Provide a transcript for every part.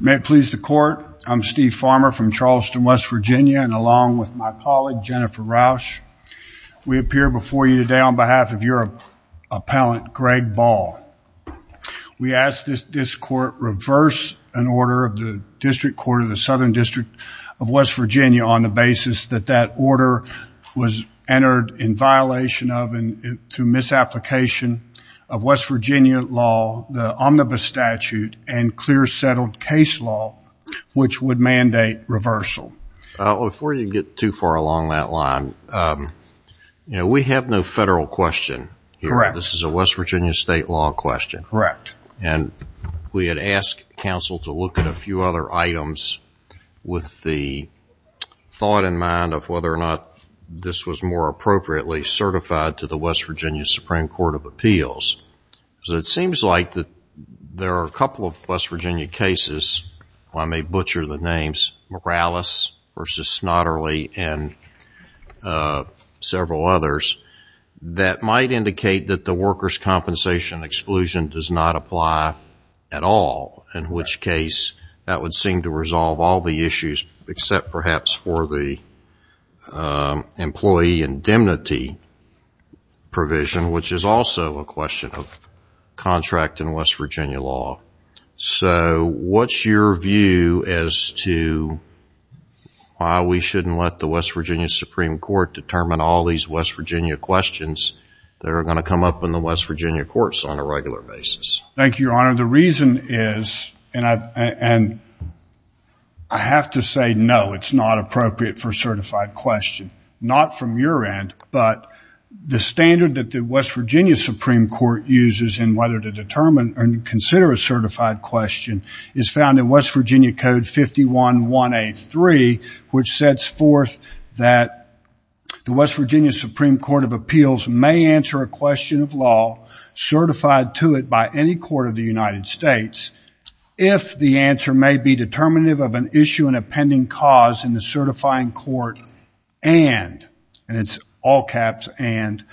May it please the Court, I'm Steve Farmer from Charleston, West Virginia, and along with my colleague, Jennifer Rausch, we appear before you today on behalf of your appellant, Greg Ball. We ask that this Court reverse an order of the District Court of the Southern District of West Virginia on the basis that that order was entered in violation of and through misapplication of West Virginia law, the omnibus statute, and clear settled case law, which would mandate reversal. Before you get too far along that line, you know, we have no federal question here. Correct. This is a West Virginia state law question. Correct. And we had asked counsel to look at a few other items with the thought in mind of whether or not this was more appropriately certified to the West Virginia Supreme Court of Appeals. So it seems like there are a couple of West Virginia cases, I may butcher the names, Morales v. Snotterly and several others, that might indicate that the workers' compensation exclusion does not apply at all, in which case that would seem to resolve all the issues except perhaps for the employee indemnity provision, which is also a question of contract in West Virginia law. So what's your view as to why we shouldn't let the West Virginia Supreme Court determine all these West Virginia questions that are going to come up in the West Virginia courts Thank you, Your Honor. The reason is, and I have to say no, it's not appropriate for a certified question. Not from your end, but the standard that the West Virginia Supreme Court uses in whether to determine and consider a certified question is found in West Virginia Code 511A3, which sets forth that the West Virginia Supreme Court of Appeals may answer a question of the United States if the answer may be determinative of an issue and a pending cause in the certifying court and, and it's all caps and,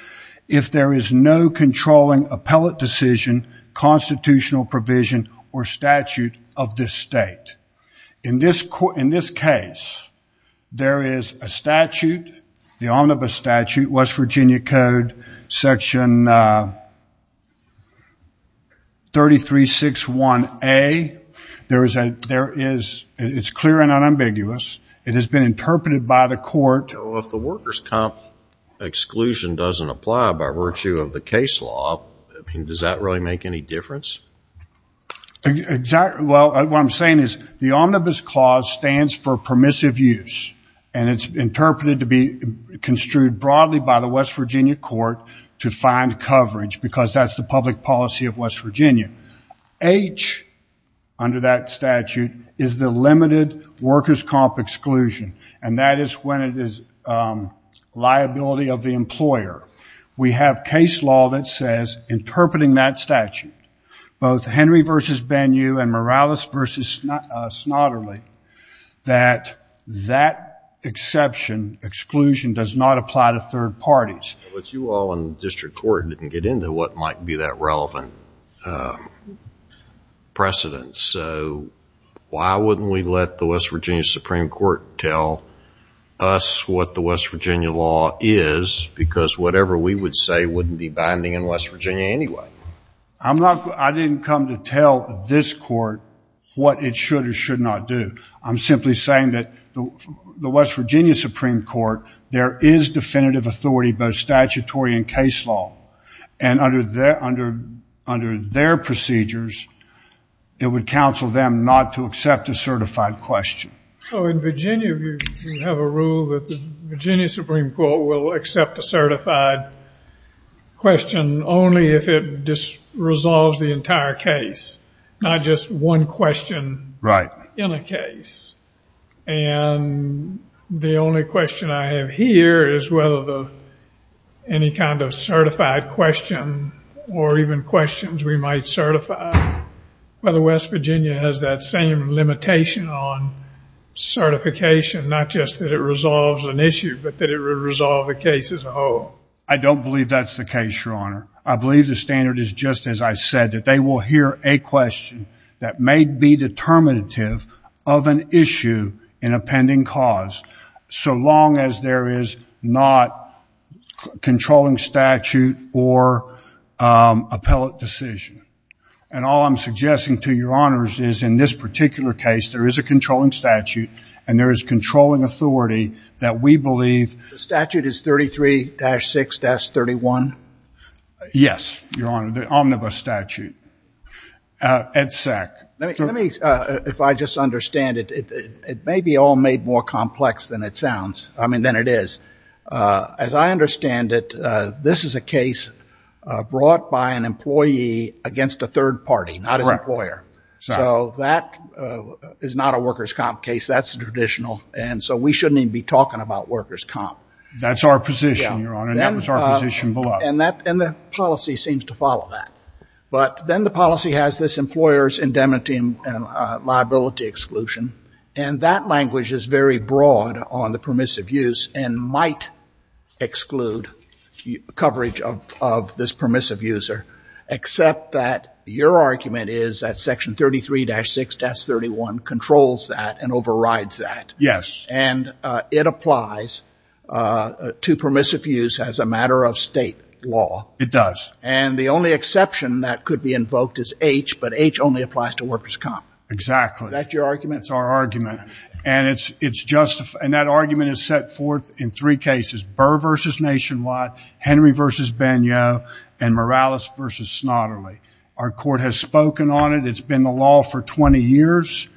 if there is no controlling appellate decision, constitutional provision or statute of this state. In this case, there is a statute, the omnibus statute, West Virginia Code Section 3361A. There is a, there is, it's clear and unambiguous. It has been interpreted by the court. So if the workers' comp exclusion doesn't apply by virtue of the case law, does that really make any difference? Exactly. Well, what I'm saying is the omnibus clause stands for permissive use and it's interpreted to be construed broadly by the West Virginia court to find coverage because that's the public policy of West Virginia. H under that statute is the limited workers' comp exclusion and that is when it is liability of the employer. We have case law that says, interpreting that statute, both Henry versus Banu and Morales versus Snotterly, that that exception, exclusion, does not apply to third parties. But you all in the district court didn't get into what might be that relevant precedent. So why wouldn't we let the West Virginia Supreme Court tell us what the West Virginia law is because whatever we would say wouldn't be binding in West Virginia anyway. I'm not, I didn't come to tell this court what it should or should not do. I'm simply saying that the West Virginia Supreme Court, there is definitive authority both statutory and case law. And under their, under, under their procedures, it would counsel them not to accept a certified question. So in Virginia, you have a rule that the Virginia Supreme Court will accept a certified question only if it just resolves the entire case, not just one question in a case. And the only question I have here is whether the, any kind of certified question or even questions we might certify, whether West Virginia has that same limitation on certification, not just that it resolves an issue, but that it would resolve the case as a whole. I don't believe that's the case, Your Honor. I believe the standard is just as I said, that they will hear a question that may be determinative of an issue in a pending cause. So long as there is not controlling statute or appellate decision. And all I'm suggesting to Your Honors is in this particular case, there is a controlling statute and there is controlling authority that we believe. The statute is 33-6-31? Yes, Your Honor, the omnibus statute. Ed Sack. Let me, if I just understand it, it may be all made more complex than it sounds. I mean, than it is. As I understand it, this is a case brought by an employee against a third party, not his employer. So that is not a workers' comp case. That's traditional. And so we shouldn't even be talking about workers' comp. That's our position, Your Honor, and that was our position below. And that, and the policy seems to follow that. But then the policy has this employer's indemnity and liability exclusion. And that language is very broad on the permissive use and might exclude coverage of this permissive user, except that your argument is that section 33-6-31 controls that and overrides that. Yes. And it applies to permissive use as a matter of state law. It does. And the only exception that could be invoked is H, but H only applies to workers' comp. Exactly. Is that your argument? It's our argument. And it's justified, and that argument is set forth in three cases, Burr v. Nationwide, Henry v. Bagnot, and Morales v. Snotterly. Our court has spoken on it. It's been the law for 20 years.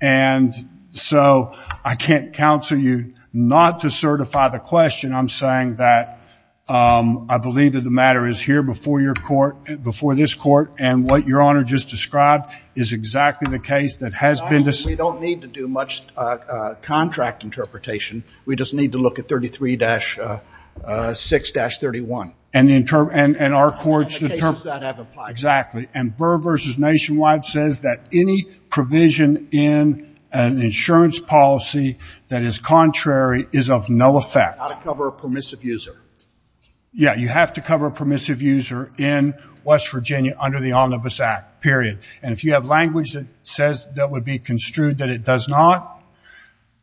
And so I can't counsel you not to certify the question. I'm saying that I believe that the matter is here before your court, before this court, and what your Honor just described is exactly the case that has been decided. We don't need to do much contract interpretation. We just need to look at 33-6-31. And our court's interpretation. And the cases that have applied to that. Exactly. And Burr v. Nationwide says that any provision in an insurance policy that is contrary is of no effect. You've got to cover a permissive user. Yeah, you have to cover a permissive user in West Virginia under the Omnibus Act, period. And if you have language that says that would be construed that it does not,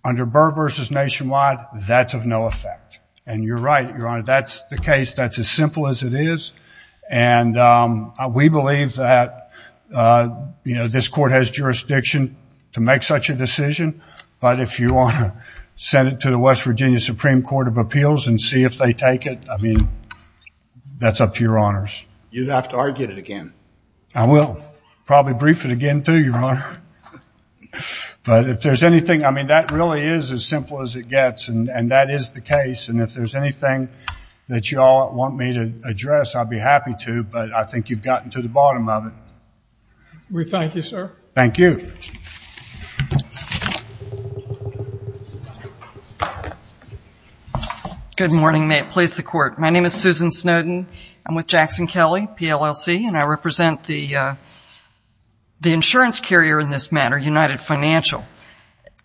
under Burr v. Nationwide, that's of no effect. And you're right, Your Honor. That's the case. That's as simple as it is. And we believe that this court has jurisdiction to make such a decision. But if you want to send it to the West Virginia Supreme Court of Appeals and see if they take it, I mean, that's up to your Honors. You'd have to argue it again. I will. Probably brief it again, too, Your Honor. But if there's anything, I mean, that really is as simple as it gets. And that is the case. And if there's anything that you all want me to address, I'd be happy to. But I think you've gotten to the bottom of it. We thank you, sir. Thank you. Thank you. Good morning. May it please the Court. My name is Susan Snowden. I'm with Jackson Kelley, PLLC. And I represent the insurance carrier in this matter, United Financial.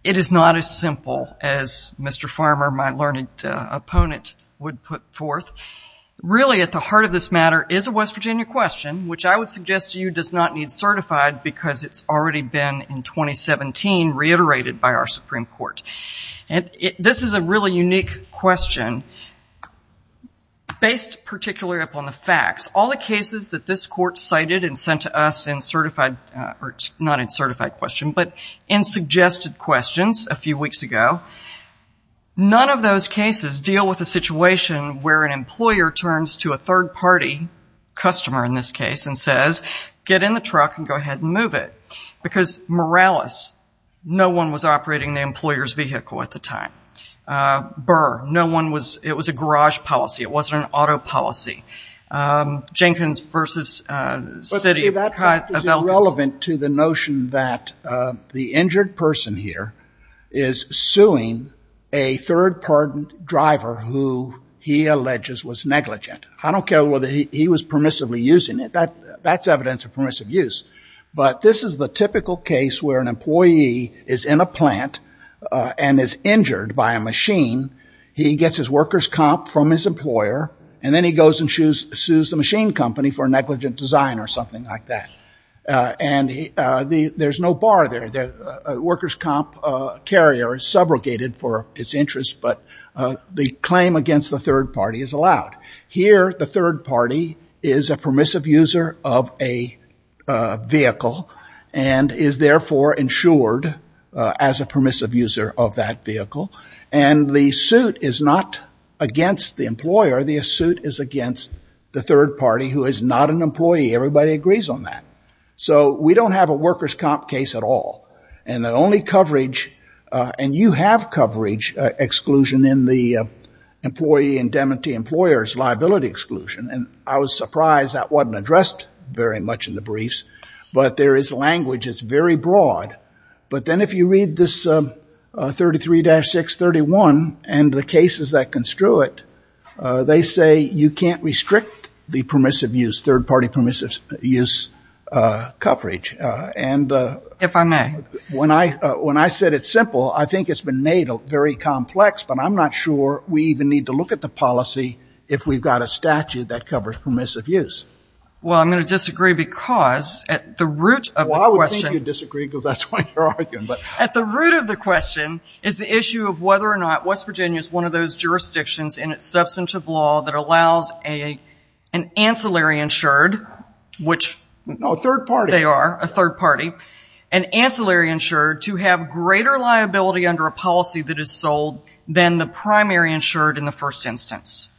It is not as simple as Mr. Farmer, my learned opponent, would put forth. Really at the heart of this matter is a West Virginia question, which I would suggest to does not need certified because it's already been, in 2017, reiterated by our Supreme Court. This is a really unique question based particularly upon the facts. All the cases that this Court cited and sent to us in certified, or not in certified question, but in suggested questions a few weeks ago, none of those cases deal with a situation where an employer turns to a third-party customer, in this case, and says, get in the truck and go ahead and move it. Because Morales, no one was operating the employer's vehicle at the time. Burr, no one was. It was a garage policy. It wasn't an auto policy. Jenkins versus Citi. But see, that practice is relevant to the notion that the injured person here is suing a third-party driver who he alleges was negligent. I don't care whether he was permissively using it. That's evidence of permissive use. But this is the typical case where an employee is in a plant and is injured by a machine. He gets his worker's comp from his employer, and then he goes and sues the machine company for negligent design or something like that. And there's no bar there. The worker's comp carrier is subrogated for its interest, but the claim against the third-party is allowed. Here, the third-party is a permissive user of a vehicle and is therefore insured as a permissive user of that vehicle. And the suit is not against the employer. The suit is against the third-party, who is not an employee. Everybody agrees on that. So we don't have a worker's comp case at all. And the only coverage, and you have coverage exclusion in the employee indemnity employer's liability exclusion. And I was surprised that wasn't addressed very much in the briefs. But there is language. It's very broad. But then if you read this 33-631 and the cases that construe it, they say you can't restrict the permissive use, third-party permissive use coverage. And when I said it's simple, I think it's been made very complex. But I'm not sure we even need to look at the policy if we've got a statute that covers permissive use. Well, I'm going to disagree, because at the root of the question is the issue of whether or not West Virginia is one of those jurisdictions in its substantive law that allows an ancillary insured, which they are, a third-party, an ancillary insured to have greater liability under a policy that is sold than the primary insured in the first instance.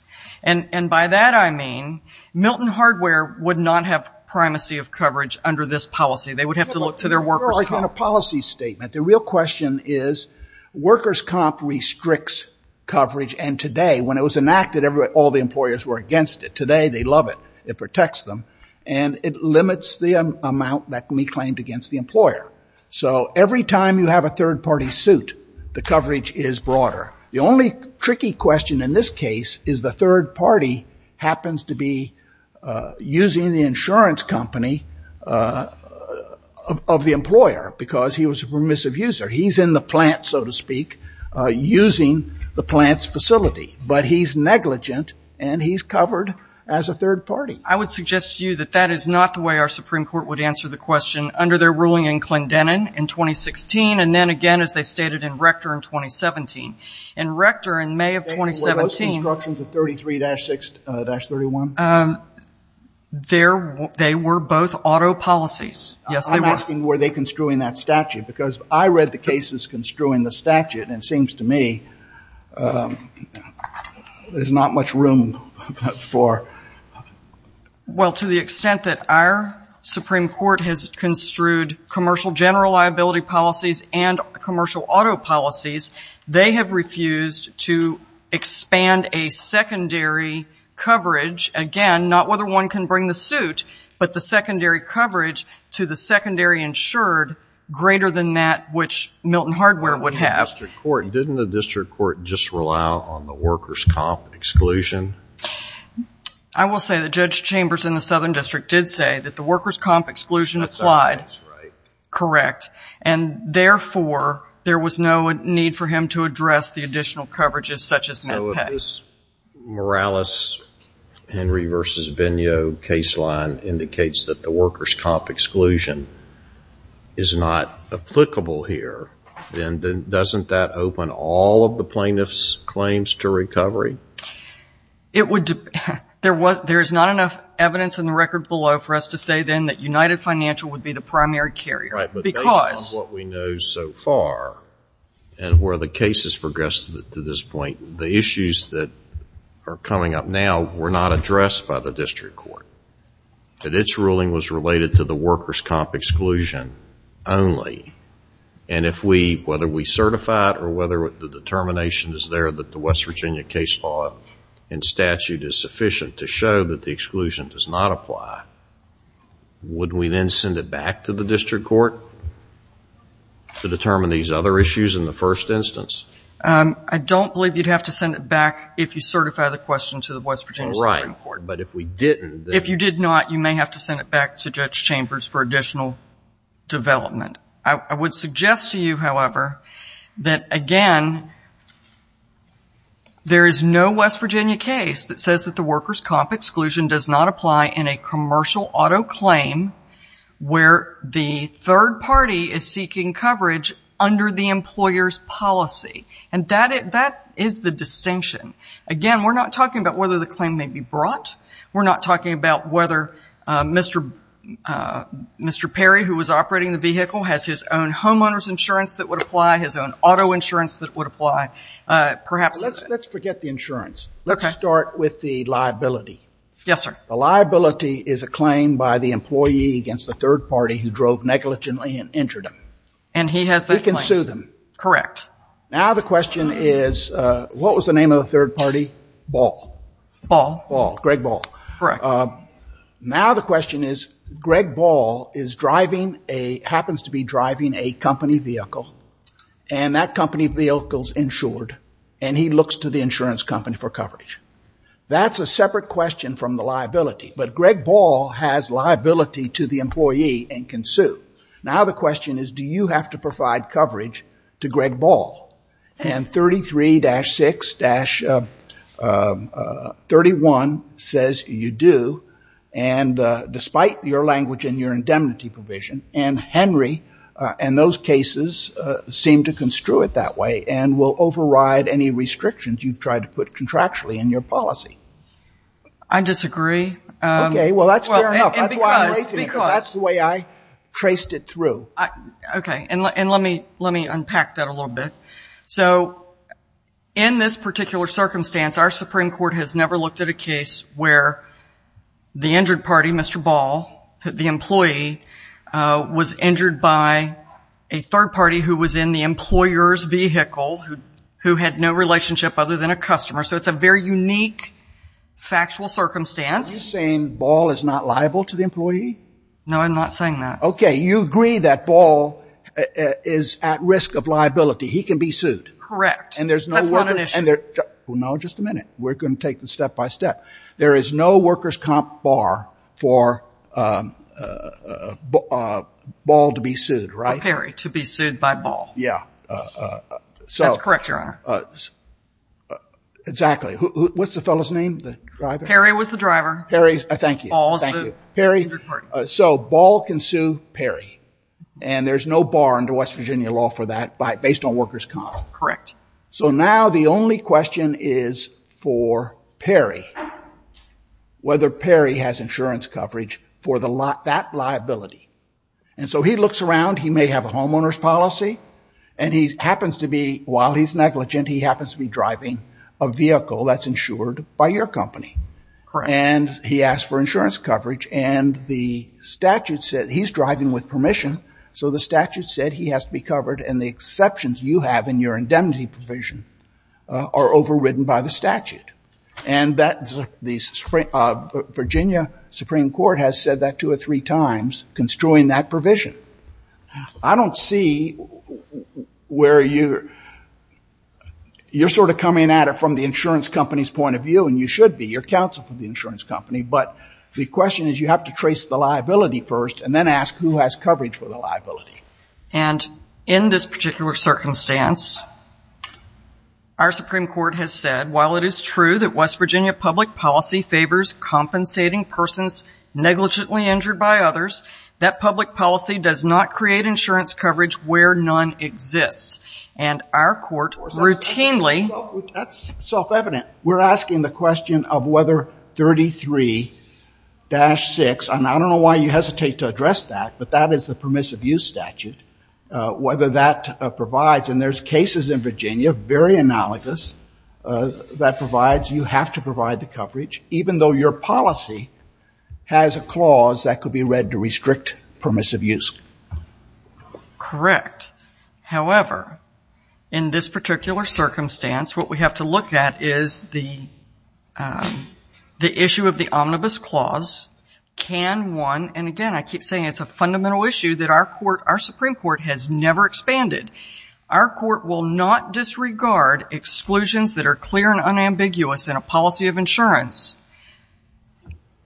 And by that I mean Milton Hardware would not have primacy of coverage under this policy. In a policy statement, the real question is workers' comp restricts coverage. And today, when it was enacted, all the employers were against it. Today, they love it. It protects them. And it limits the amount that can be claimed against the employer. So every time you have a third-party suit, the coverage is broader. The only tricky question in this case is the third party happens to be using the insurance company of the employer, because he was a permissive user. He's in the plant, so to speak, using the plant's facility. But he's negligent, and he's covered as a third party. I would suggest to you that that is not the way our Supreme Court would answer the question under their ruling in Clendenin in 2016, and then again, as they stated, in Rector in 2017. In Rector in May of 2017 – Were those constructions at 33-6-31? They were both auto policies. Yes, they were. I'm asking, were they construing that statute? Because I read the cases construing the statute, and it seems to me there's not much room for – Well, to the extent that our Supreme Court has construed commercial general liability policies and commercial auto policies, they have refused to expand a secondary coverage. Again, not whether one can bring the suit, but the secondary coverage to the secondary insured greater than that which Milton Hardware would have. Didn't the district court just rely on the workers' comp exclusion? I will say that Judge Chambers in the Southern District did say that the workers' comp exclusion applied. That's right. Correct. And therefore, there was no need for him to address the additional coverages such as MedPay. So if this Morales-Henry v. Vigneault case line indicates that the workers' comp exclusion is not applicable here, then doesn't that open all of the plaintiff's claims to recovery? It would – there is not enough evidence in the record below for us to say then that United Financial would be the primary carrier. Based on what we know so far and where the case has progressed to this point, the issues that are coming up now were not addressed by the district court. Its ruling was related to the workers' comp exclusion only. And if we – whether we certify it or whether the determination is there that the West Virginia case law and statute is sufficient to show that the exclusion does not apply, would we then send it back to the district court to determine these other issues in the first instance? I don't believe you'd have to send it back if you certify the question to the West Virginia Supreme Court. Right. But if we didn't, then – If you did not, you may have to send it back to Judge Chambers for additional development. I would suggest to you, however, that, again, there is no West Virginia case that says that workers' comp exclusion does not apply in a commercial auto claim where the third party is seeking coverage under the employer's policy. And that is the distinction. Again, we're not talking about whether the claim may be brought. We're not talking about whether Mr. Perry, who was operating the vehicle, has his own homeowner's insurance that would apply, his own auto insurance that would apply. Perhaps – Let's forget the insurance. Okay. Let's start with the liability. Yes, sir. The liability is a claim by the employee against the third party who drove negligently and injured him. And he has that claim. He can sue them. Correct. Now the question is, what was the name of the third party? Ball. Ball. Ball. Greg Ball. Correct. Now the question is, Greg Ball is driving a – happens to be driving a company vehicle, and that company vehicle is insured, and he looks to the insurance company for coverage. That's a separate question from the liability, but Greg Ball has liability to the employee and can sue. Now the question is, do you have to provide coverage to Greg Ball? And 33-6-31 says you do, and despite your language and your indemnity provision, Anne Henry and those cases seem to construe it that way and will override any restrictions you've tried to put contractually in your policy. I disagree. Okay. Well, that's fair enough. That's why I'm raising it. That's the way I traced it through. Okay. And let me unpack that a little bit. So in this particular circumstance, our Supreme Court has never looked at a case where the injured party, Mr. Ball, the employee, was injured by a third party who was in the employer's vehicle, who had no relationship other than a customer. So it's a very unique factual circumstance. Are you saying Ball is not liable to the employee? No, I'm not saying that. Okay. You agree that Ball is at risk of liability. He can be sued. Correct. That's not an issue. Well, no, just a minute. We're going to take this step by step. There is no workers' comp bar for Ball to be sued, right? Perry to be sued by Ball. Yeah. That's correct, Your Honor. Exactly. What's the fellow's name, the driver? Perry was the driver. Perry. Thank you. Thank you. So Ball can sue Perry, and there's no bar under West Virginia law for that based on workers' comp. Correct. So now the only question is for Perry, whether Perry has insurance coverage for that liability. And so he looks around. He may have a homeowner's policy, and he happens to be, while he's negligent, he happens to be driving a vehicle that's insured by your company. Correct. And he asked for insurance coverage, and the statute said he's driving with permission, so the statute said he has to be covered, and the exceptions you have in your indemnity provision are overridden by the statute. And the Virginia Supreme Court has said that two or three times, constroying that provision. I don't see where you're sort of coming at it from the insurance company's point of view, and you should be. You're counsel for the insurance company, but the question is you have to trace the liability first and then ask who has coverage for the liability. And in this particular circumstance, our Supreme Court has said, while it is true that West Virginia public policy favors compensating persons negligently injured by others, that public policy does not create insurance coverage where none exists. And our court routinely. That's self-evident. We're asking the question of whether 33-6, and I don't know why you hesitate to address that, but that is the permissive use statute, whether that provides, and there's cases in Virginia, very analogous, that provides you have to provide the coverage, even though your policy has a clause that could be read to restrict permissive use. Correct. However, in this particular circumstance, what we have to look at is the issue of the omnibus clause. Can one, and again, I keep saying it's a fundamental issue that our Supreme Court has never expanded. Our court will not disregard exclusions that are clear and unambiguous in a policy of insurance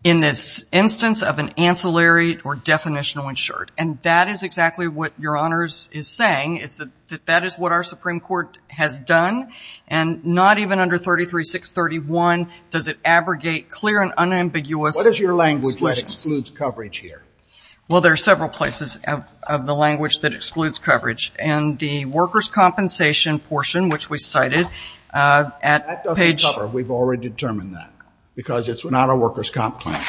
in this instance of an ancillary or definitional insured. And that is exactly what Your Honors is saying, is that that is what our Supreme Court has done, and not even under 33-631 does it abrogate clear and unambiguous exclusions. What is your language that excludes coverage here? Well, there are several places of the language that excludes coverage, and the workers' compensation portion, which we cited at page... That doesn't cover. We've already determined that, because it's not a workers' comp plan.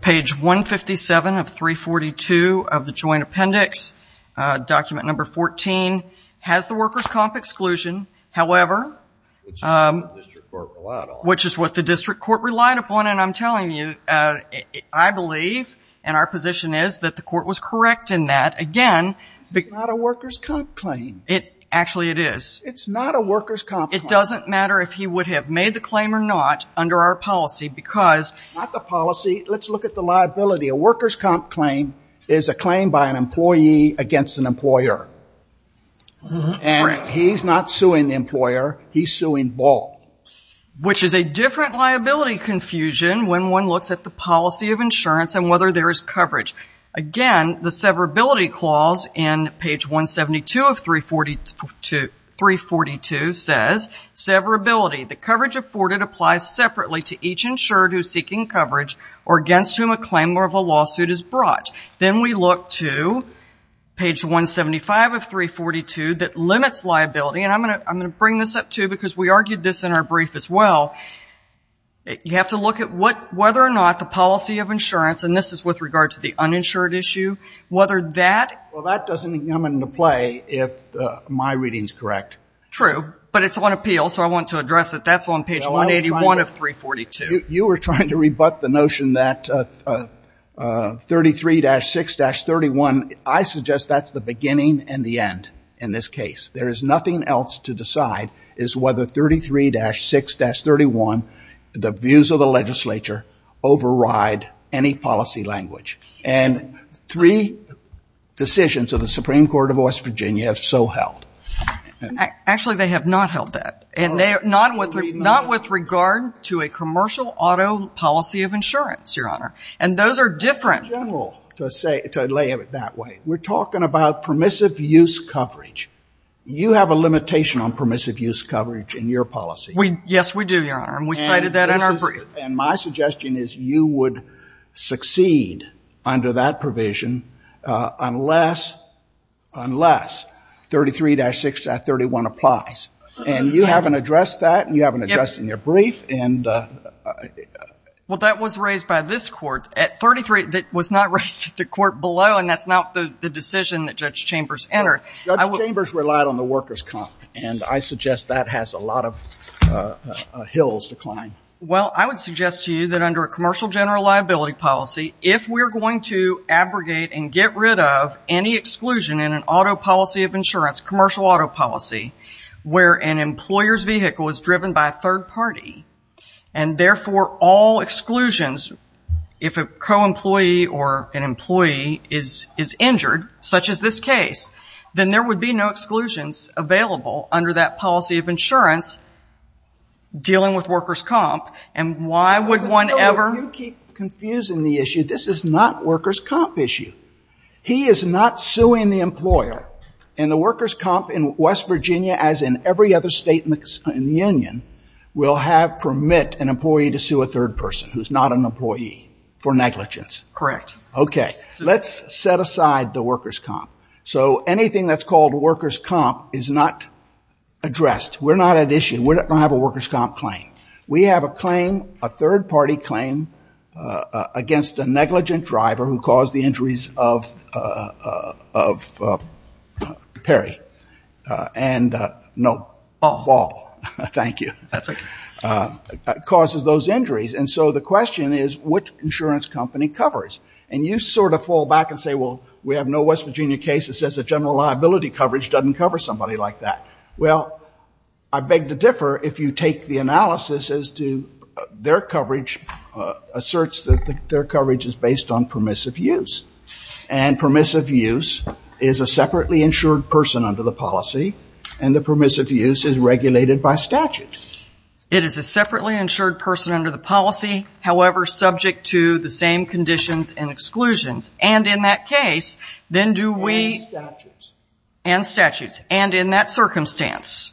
Page 157 of 342 of the joint appendix, document number 14, has the workers' comp exclusion. However... Which is what the district court relied upon. Which is what the district court relied upon. And I'm telling you, I believe, and our position is that the court was correct in that. Again... It's not a workers' comp claim. Actually, it is. It's not a workers' comp claim. It doesn't matter if he would have made the claim or not under our policy, because... Not the policy. Let's look at the liability. A workers' comp claim is a claim by an employee against an employer. And he's not suing the employer. He's suing Ball. Which is a different liability confusion when one looks at the policy of insurance and whether there is coverage. Again, the severability clause in page 172 of 342 says, Severability. The coverage afforded applies separately to each insured who is seeking coverage or against whom a claim of a lawsuit is brought. Then we look to page 175 of 342 that limits liability. And I'm going to bring this up, too, because we argued this in our brief as well. You have to look at whether or not the policy of insurance, and this is with regard to the uninsured issue, whether that... Well, that doesn't come into play if my reading is correct. True. But it's on appeal, so I want to address it. That's on page 181 of 342. You were trying to rebut the notion that 33-6-31. I suggest that's the beginning and the end in this case. There is nothing else to decide is whether 33-6-31, the views of the legislature override any policy language. And three decisions of the Supreme Court of West Virginia have so held. Actually, they have not held that. Not with regard to a commercial auto policy of insurance, Your Honor. And those are different. In general, to lay it that way, we're talking about permissive use coverage. You have a limitation on permissive use coverage in your policy. Yes, we do, Your Honor. And we cited that in our brief. And my suggestion is you would succeed under that provision unless 33-6-31 applies. And you haven't addressed that, and you haven't addressed it in your brief. Well, that was raised by this court. 33 was not raised at the court below, and that's not the decision that Judge Chambers entered. Judge Chambers relied on the workers' comp. And I suggest that has a lot of hills to climb. Well, I would suggest to you that under a commercial general liability policy, if we're going to abrogate and get rid of any exclusion in an auto policy of insurance, commercial auto policy, where an employer's vehicle is driven by a third party, and therefore all exclusions, if a co-employee or an employee is injured, such as this case, then there would be no exclusions available under that policy of insurance dealing with workers' comp. And why would one ever — But, no, you keep confusing the issue. This is not workers' comp issue. He is not suing the employer. And the workers' comp in West Virginia, as in every other state in the union, will have permit an employee to sue a third person who's not an employee for negligence. Correct. Okay. Let's set aside the workers' comp. So anything that's called workers' comp is not addressed. We're not at issue. We're not going to have a workers' comp claim. We have a claim, a third party claim, against a negligent driver who caused the injuries of Perry. And, no, Ball. Thank you. That's okay. Causes those injuries. And so the question is, what insurance company covers? And you sort of fall back and say, well, we have no West Virginia case that says that general liability coverage doesn't cover somebody like that. Well, I beg to differ if you take the analysis as to their coverage, asserts that their coverage is based on permissive use. And permissive use is a separately insured person under the policy, and the permissive use is regulated by statute. It is a separately insured person under the policy, however, subject to the same conditions and exclusions. And in that case, then do we ‑‑ And statutes. And statutes. And in that circumstance,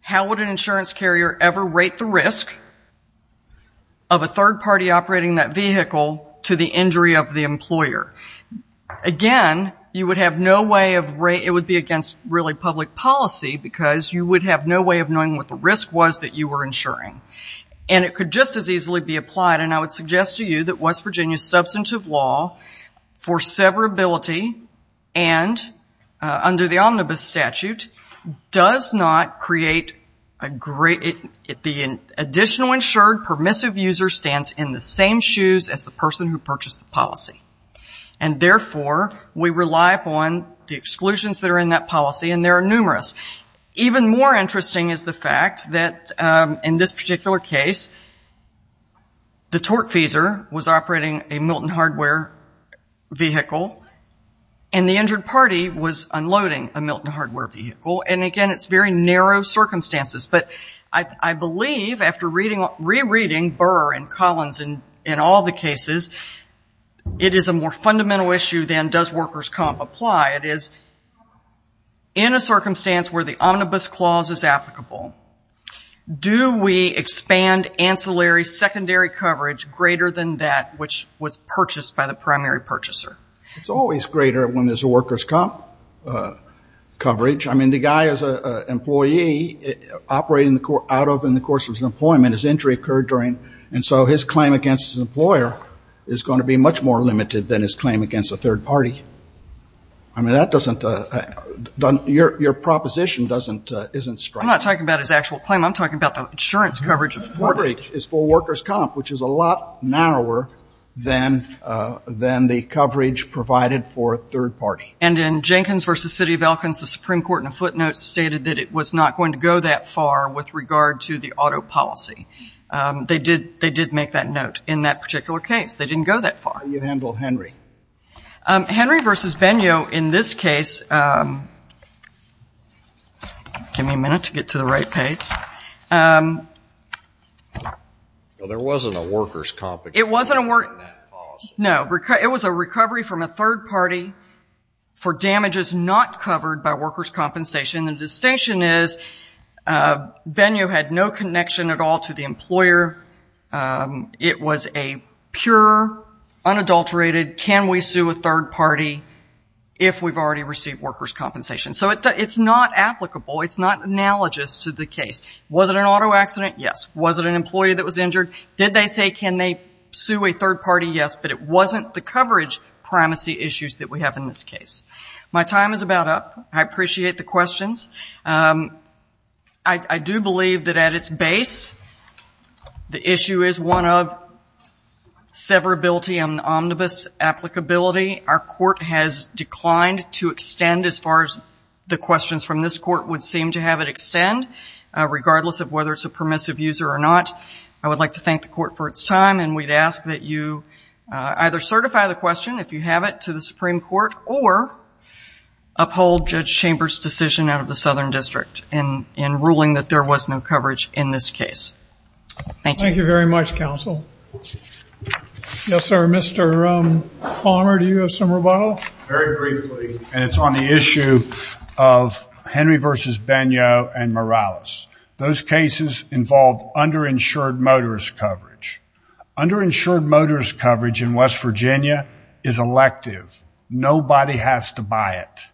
how would an insurance carrier ever rate the risk of a third party operating that vehicle to the injury of the employer? Again, you would have no way of ‑‑ it would be against really public policy because you would have no way of knowing what the risk was that you were insuring. And it could just as easily be applied, and I would suggest to you that West Virginia's substantive law for severability and under the omnibus statute does not create a great ‑‑ the additional insured permissive user stands in the same shoes as the person who purchased the policy. And therefore, we rely upon the exclusions that are in that policy, and there are numerous. Even more interesting is the fact that in this particular case, the tortfeasor was operating a Milton hardware vehicle, and the injured party was unloading a Milton hardware vehicle. And, again, it's very narrow circumstances. But I believe after rereading Burr and Collins in all the cases, it is a more fundamental issue than does workers' comp apply. It is in a circumstance where the omnibus clause is applicable, do we expand ancillary secondary coverage greater than that which was purchased by the primary purchaser? It's always greater when there's a workers' comp coverage. I mean, the guy is an employee operating out of and in the course of his employment. His injury occurred during, and so his claim against his employer is going to be much more limited than his claim against a third party. I mean, that doesn't, your proposition doesn't, isn't striking. I'm not talking about his actual claim. I'm talking about the insurance coverage. The coverage is for workers' comp, which is a lot narrower than the coverage provided for a third party. And in Jenkins v. City of Elkins, the Supreme Court in a footnote stated that it was not going to go that far with regard to the auto policy. They did make that note in that particular case. They didn't go that far. How do you handle Henry? Henry v. Benio, in this case, give me a minute to get to the right page. There wasn't a workers' compensation in that policy. No, it was a recovery from a third party for damages not covered by workers' compensation. The distinction is Benio had no connection at all to the employer. It was a pure, unadulterated, can we sue a third party if we've already received workers' compensation. So it's not applicable. It's not analogous to the case. Was it an auto accident? Yes. Was it an employee that was injured? Did they say can they sue a third party? Yes, but it wasn't the coverage primacy issues that we have in this case. My time is about up. I appreciate the questions. I do believe that at its base, the issue is one of severability and omnibus applicability. Our court has declined to extend as far as the questions from this court would seem to have it extend, regardless of whether it's a permissive user or not. I would like to thank the court for its time, and we'd ask that you either certify the question, if you have it, to the Supreme Court, or uphold Judge Chambers' decision out of the Southern District in ruling that there was no coverage in this case. Thank you. Thank you very much, counsel. Yes, sir. Mr. Palmer, do you have some rebuttal? Very briefly, and it's on the issue of Henry v. Bagnot and Morales. Those cases involve underinsured motorist coverage. Underinsured motorist coverage in West Virginia is elective. Nobody has to buy it.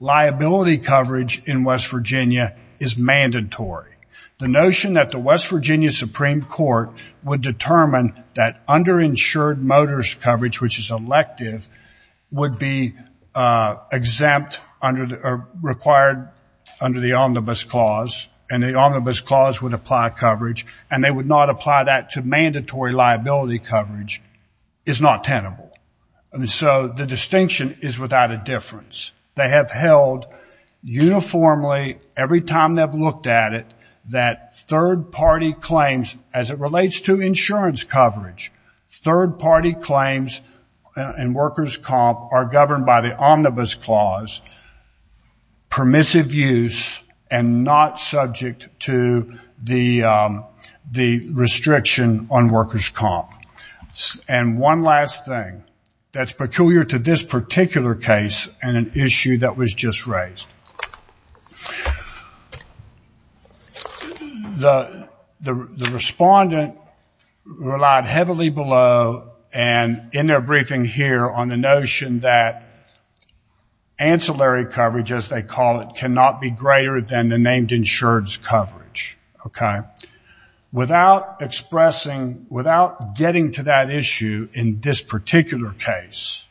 Liability coverage in West Virginia is mandatory. The notion that the West Virginia Supreme Court would determine that underinsured motorist coverage, which is elective, would be exempt or required under the omnibus clause, and the omnibus clause would apply coverage, and they would not apply that to mandatory liability coverage, is not tenable. So the distinction is without a difference. They have held uniformly, every time they've looked at it, that third-party claims, as it relates to insurance coverage, third-party claims in workers' comp are governed by the omnibus clause, permissive use, and not subject to the restriction on workers' comp. And one last thing that's peculiar to this particular case and an issue that was just raised. The respondent relied heavily below and in their briefing here on the notion that ancillary coverage, as they call it, cannot be greater than the named insured's coverage. Without getting to that issue in this particular case,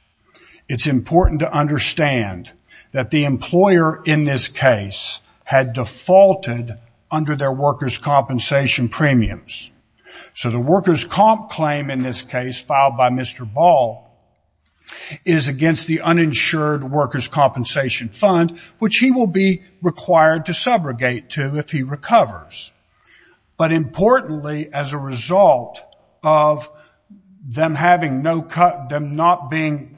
it's important to understand that the employer in this case had defaulted under their workers' compensation premiums. So the workers' comp claim in this case filed by Mr. Ball is against the uninsured workers' compensation fund, which he will be required to subrogate to if he recovers. But importantly, as a result of them not being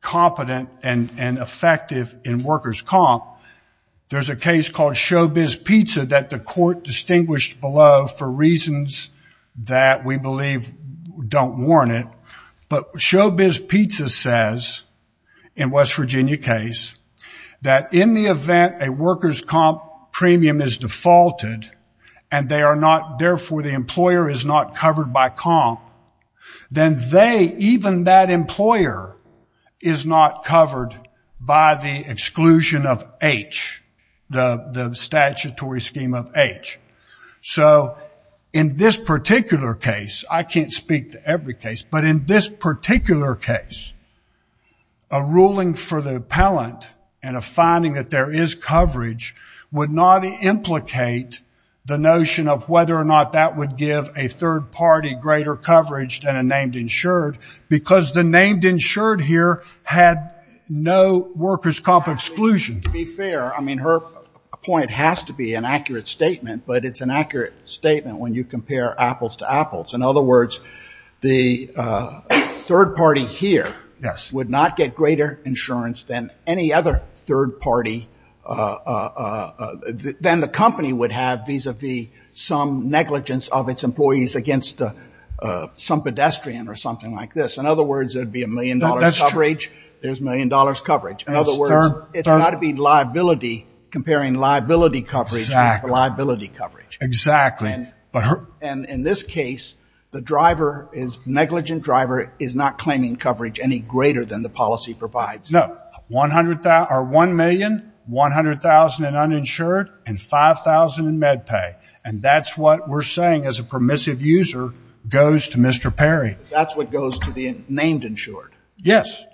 competent and effective in workers' comp, there's a case called Showbiz Pizza that the court distinguished below for reasons that we believe don't warrant it. But Showbiz Pizza says, in West Virginia case, that in the event a workers' comp premium is defaulted and therefore the employer is not covered by comp, then even that employer is not covered by the exclusion of H, the statutory scheme of H. So in this particular case, I can't speak to every case, but in this particular case, a ruling for the appellant and a finding that there is coverage would not implicate the notion of whether or not that would give a third party greater coverage than a named insured because the named insured here had no workers' comp exclusion. To be fair, I mean, her point has to be an accurate statement, but it's an accurate statement when you compare apples to apples. In other words, the third party here would not get greater insurance than any other third party, than the company would have vis-a-vis some negligence of its employees against some pedestrian or something like this. In other words, there would be a million-dollar coverage. There's million-dollar coverage. In other words, it's got to be liability, comparing liability coverage with liability coverage. Exactly. And in this case, the negligent driver is not claiming coverage any greater than the policy provides. No. One million, 100,000 in uninsured, and 5,000 in med pay. And that's what we're saying as a permissive user goes to Mr. Perry. That's what goes to the named insured. Yes.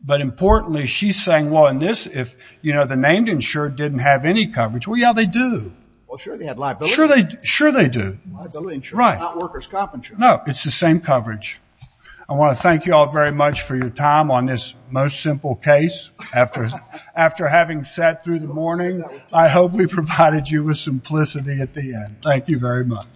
But importantly, she's saying, well, in this, if the named insured didn't have any coverage, well, yeah, they do. Well, sure, they had liability. Sure, they do. Liability insurance, not workers' comp insurance. No, it's the same coverage. I want to thank you all very much for your time on this most simple case. After having sat through the morning, I hope we provided you with simplicity at the end. Thank you very much.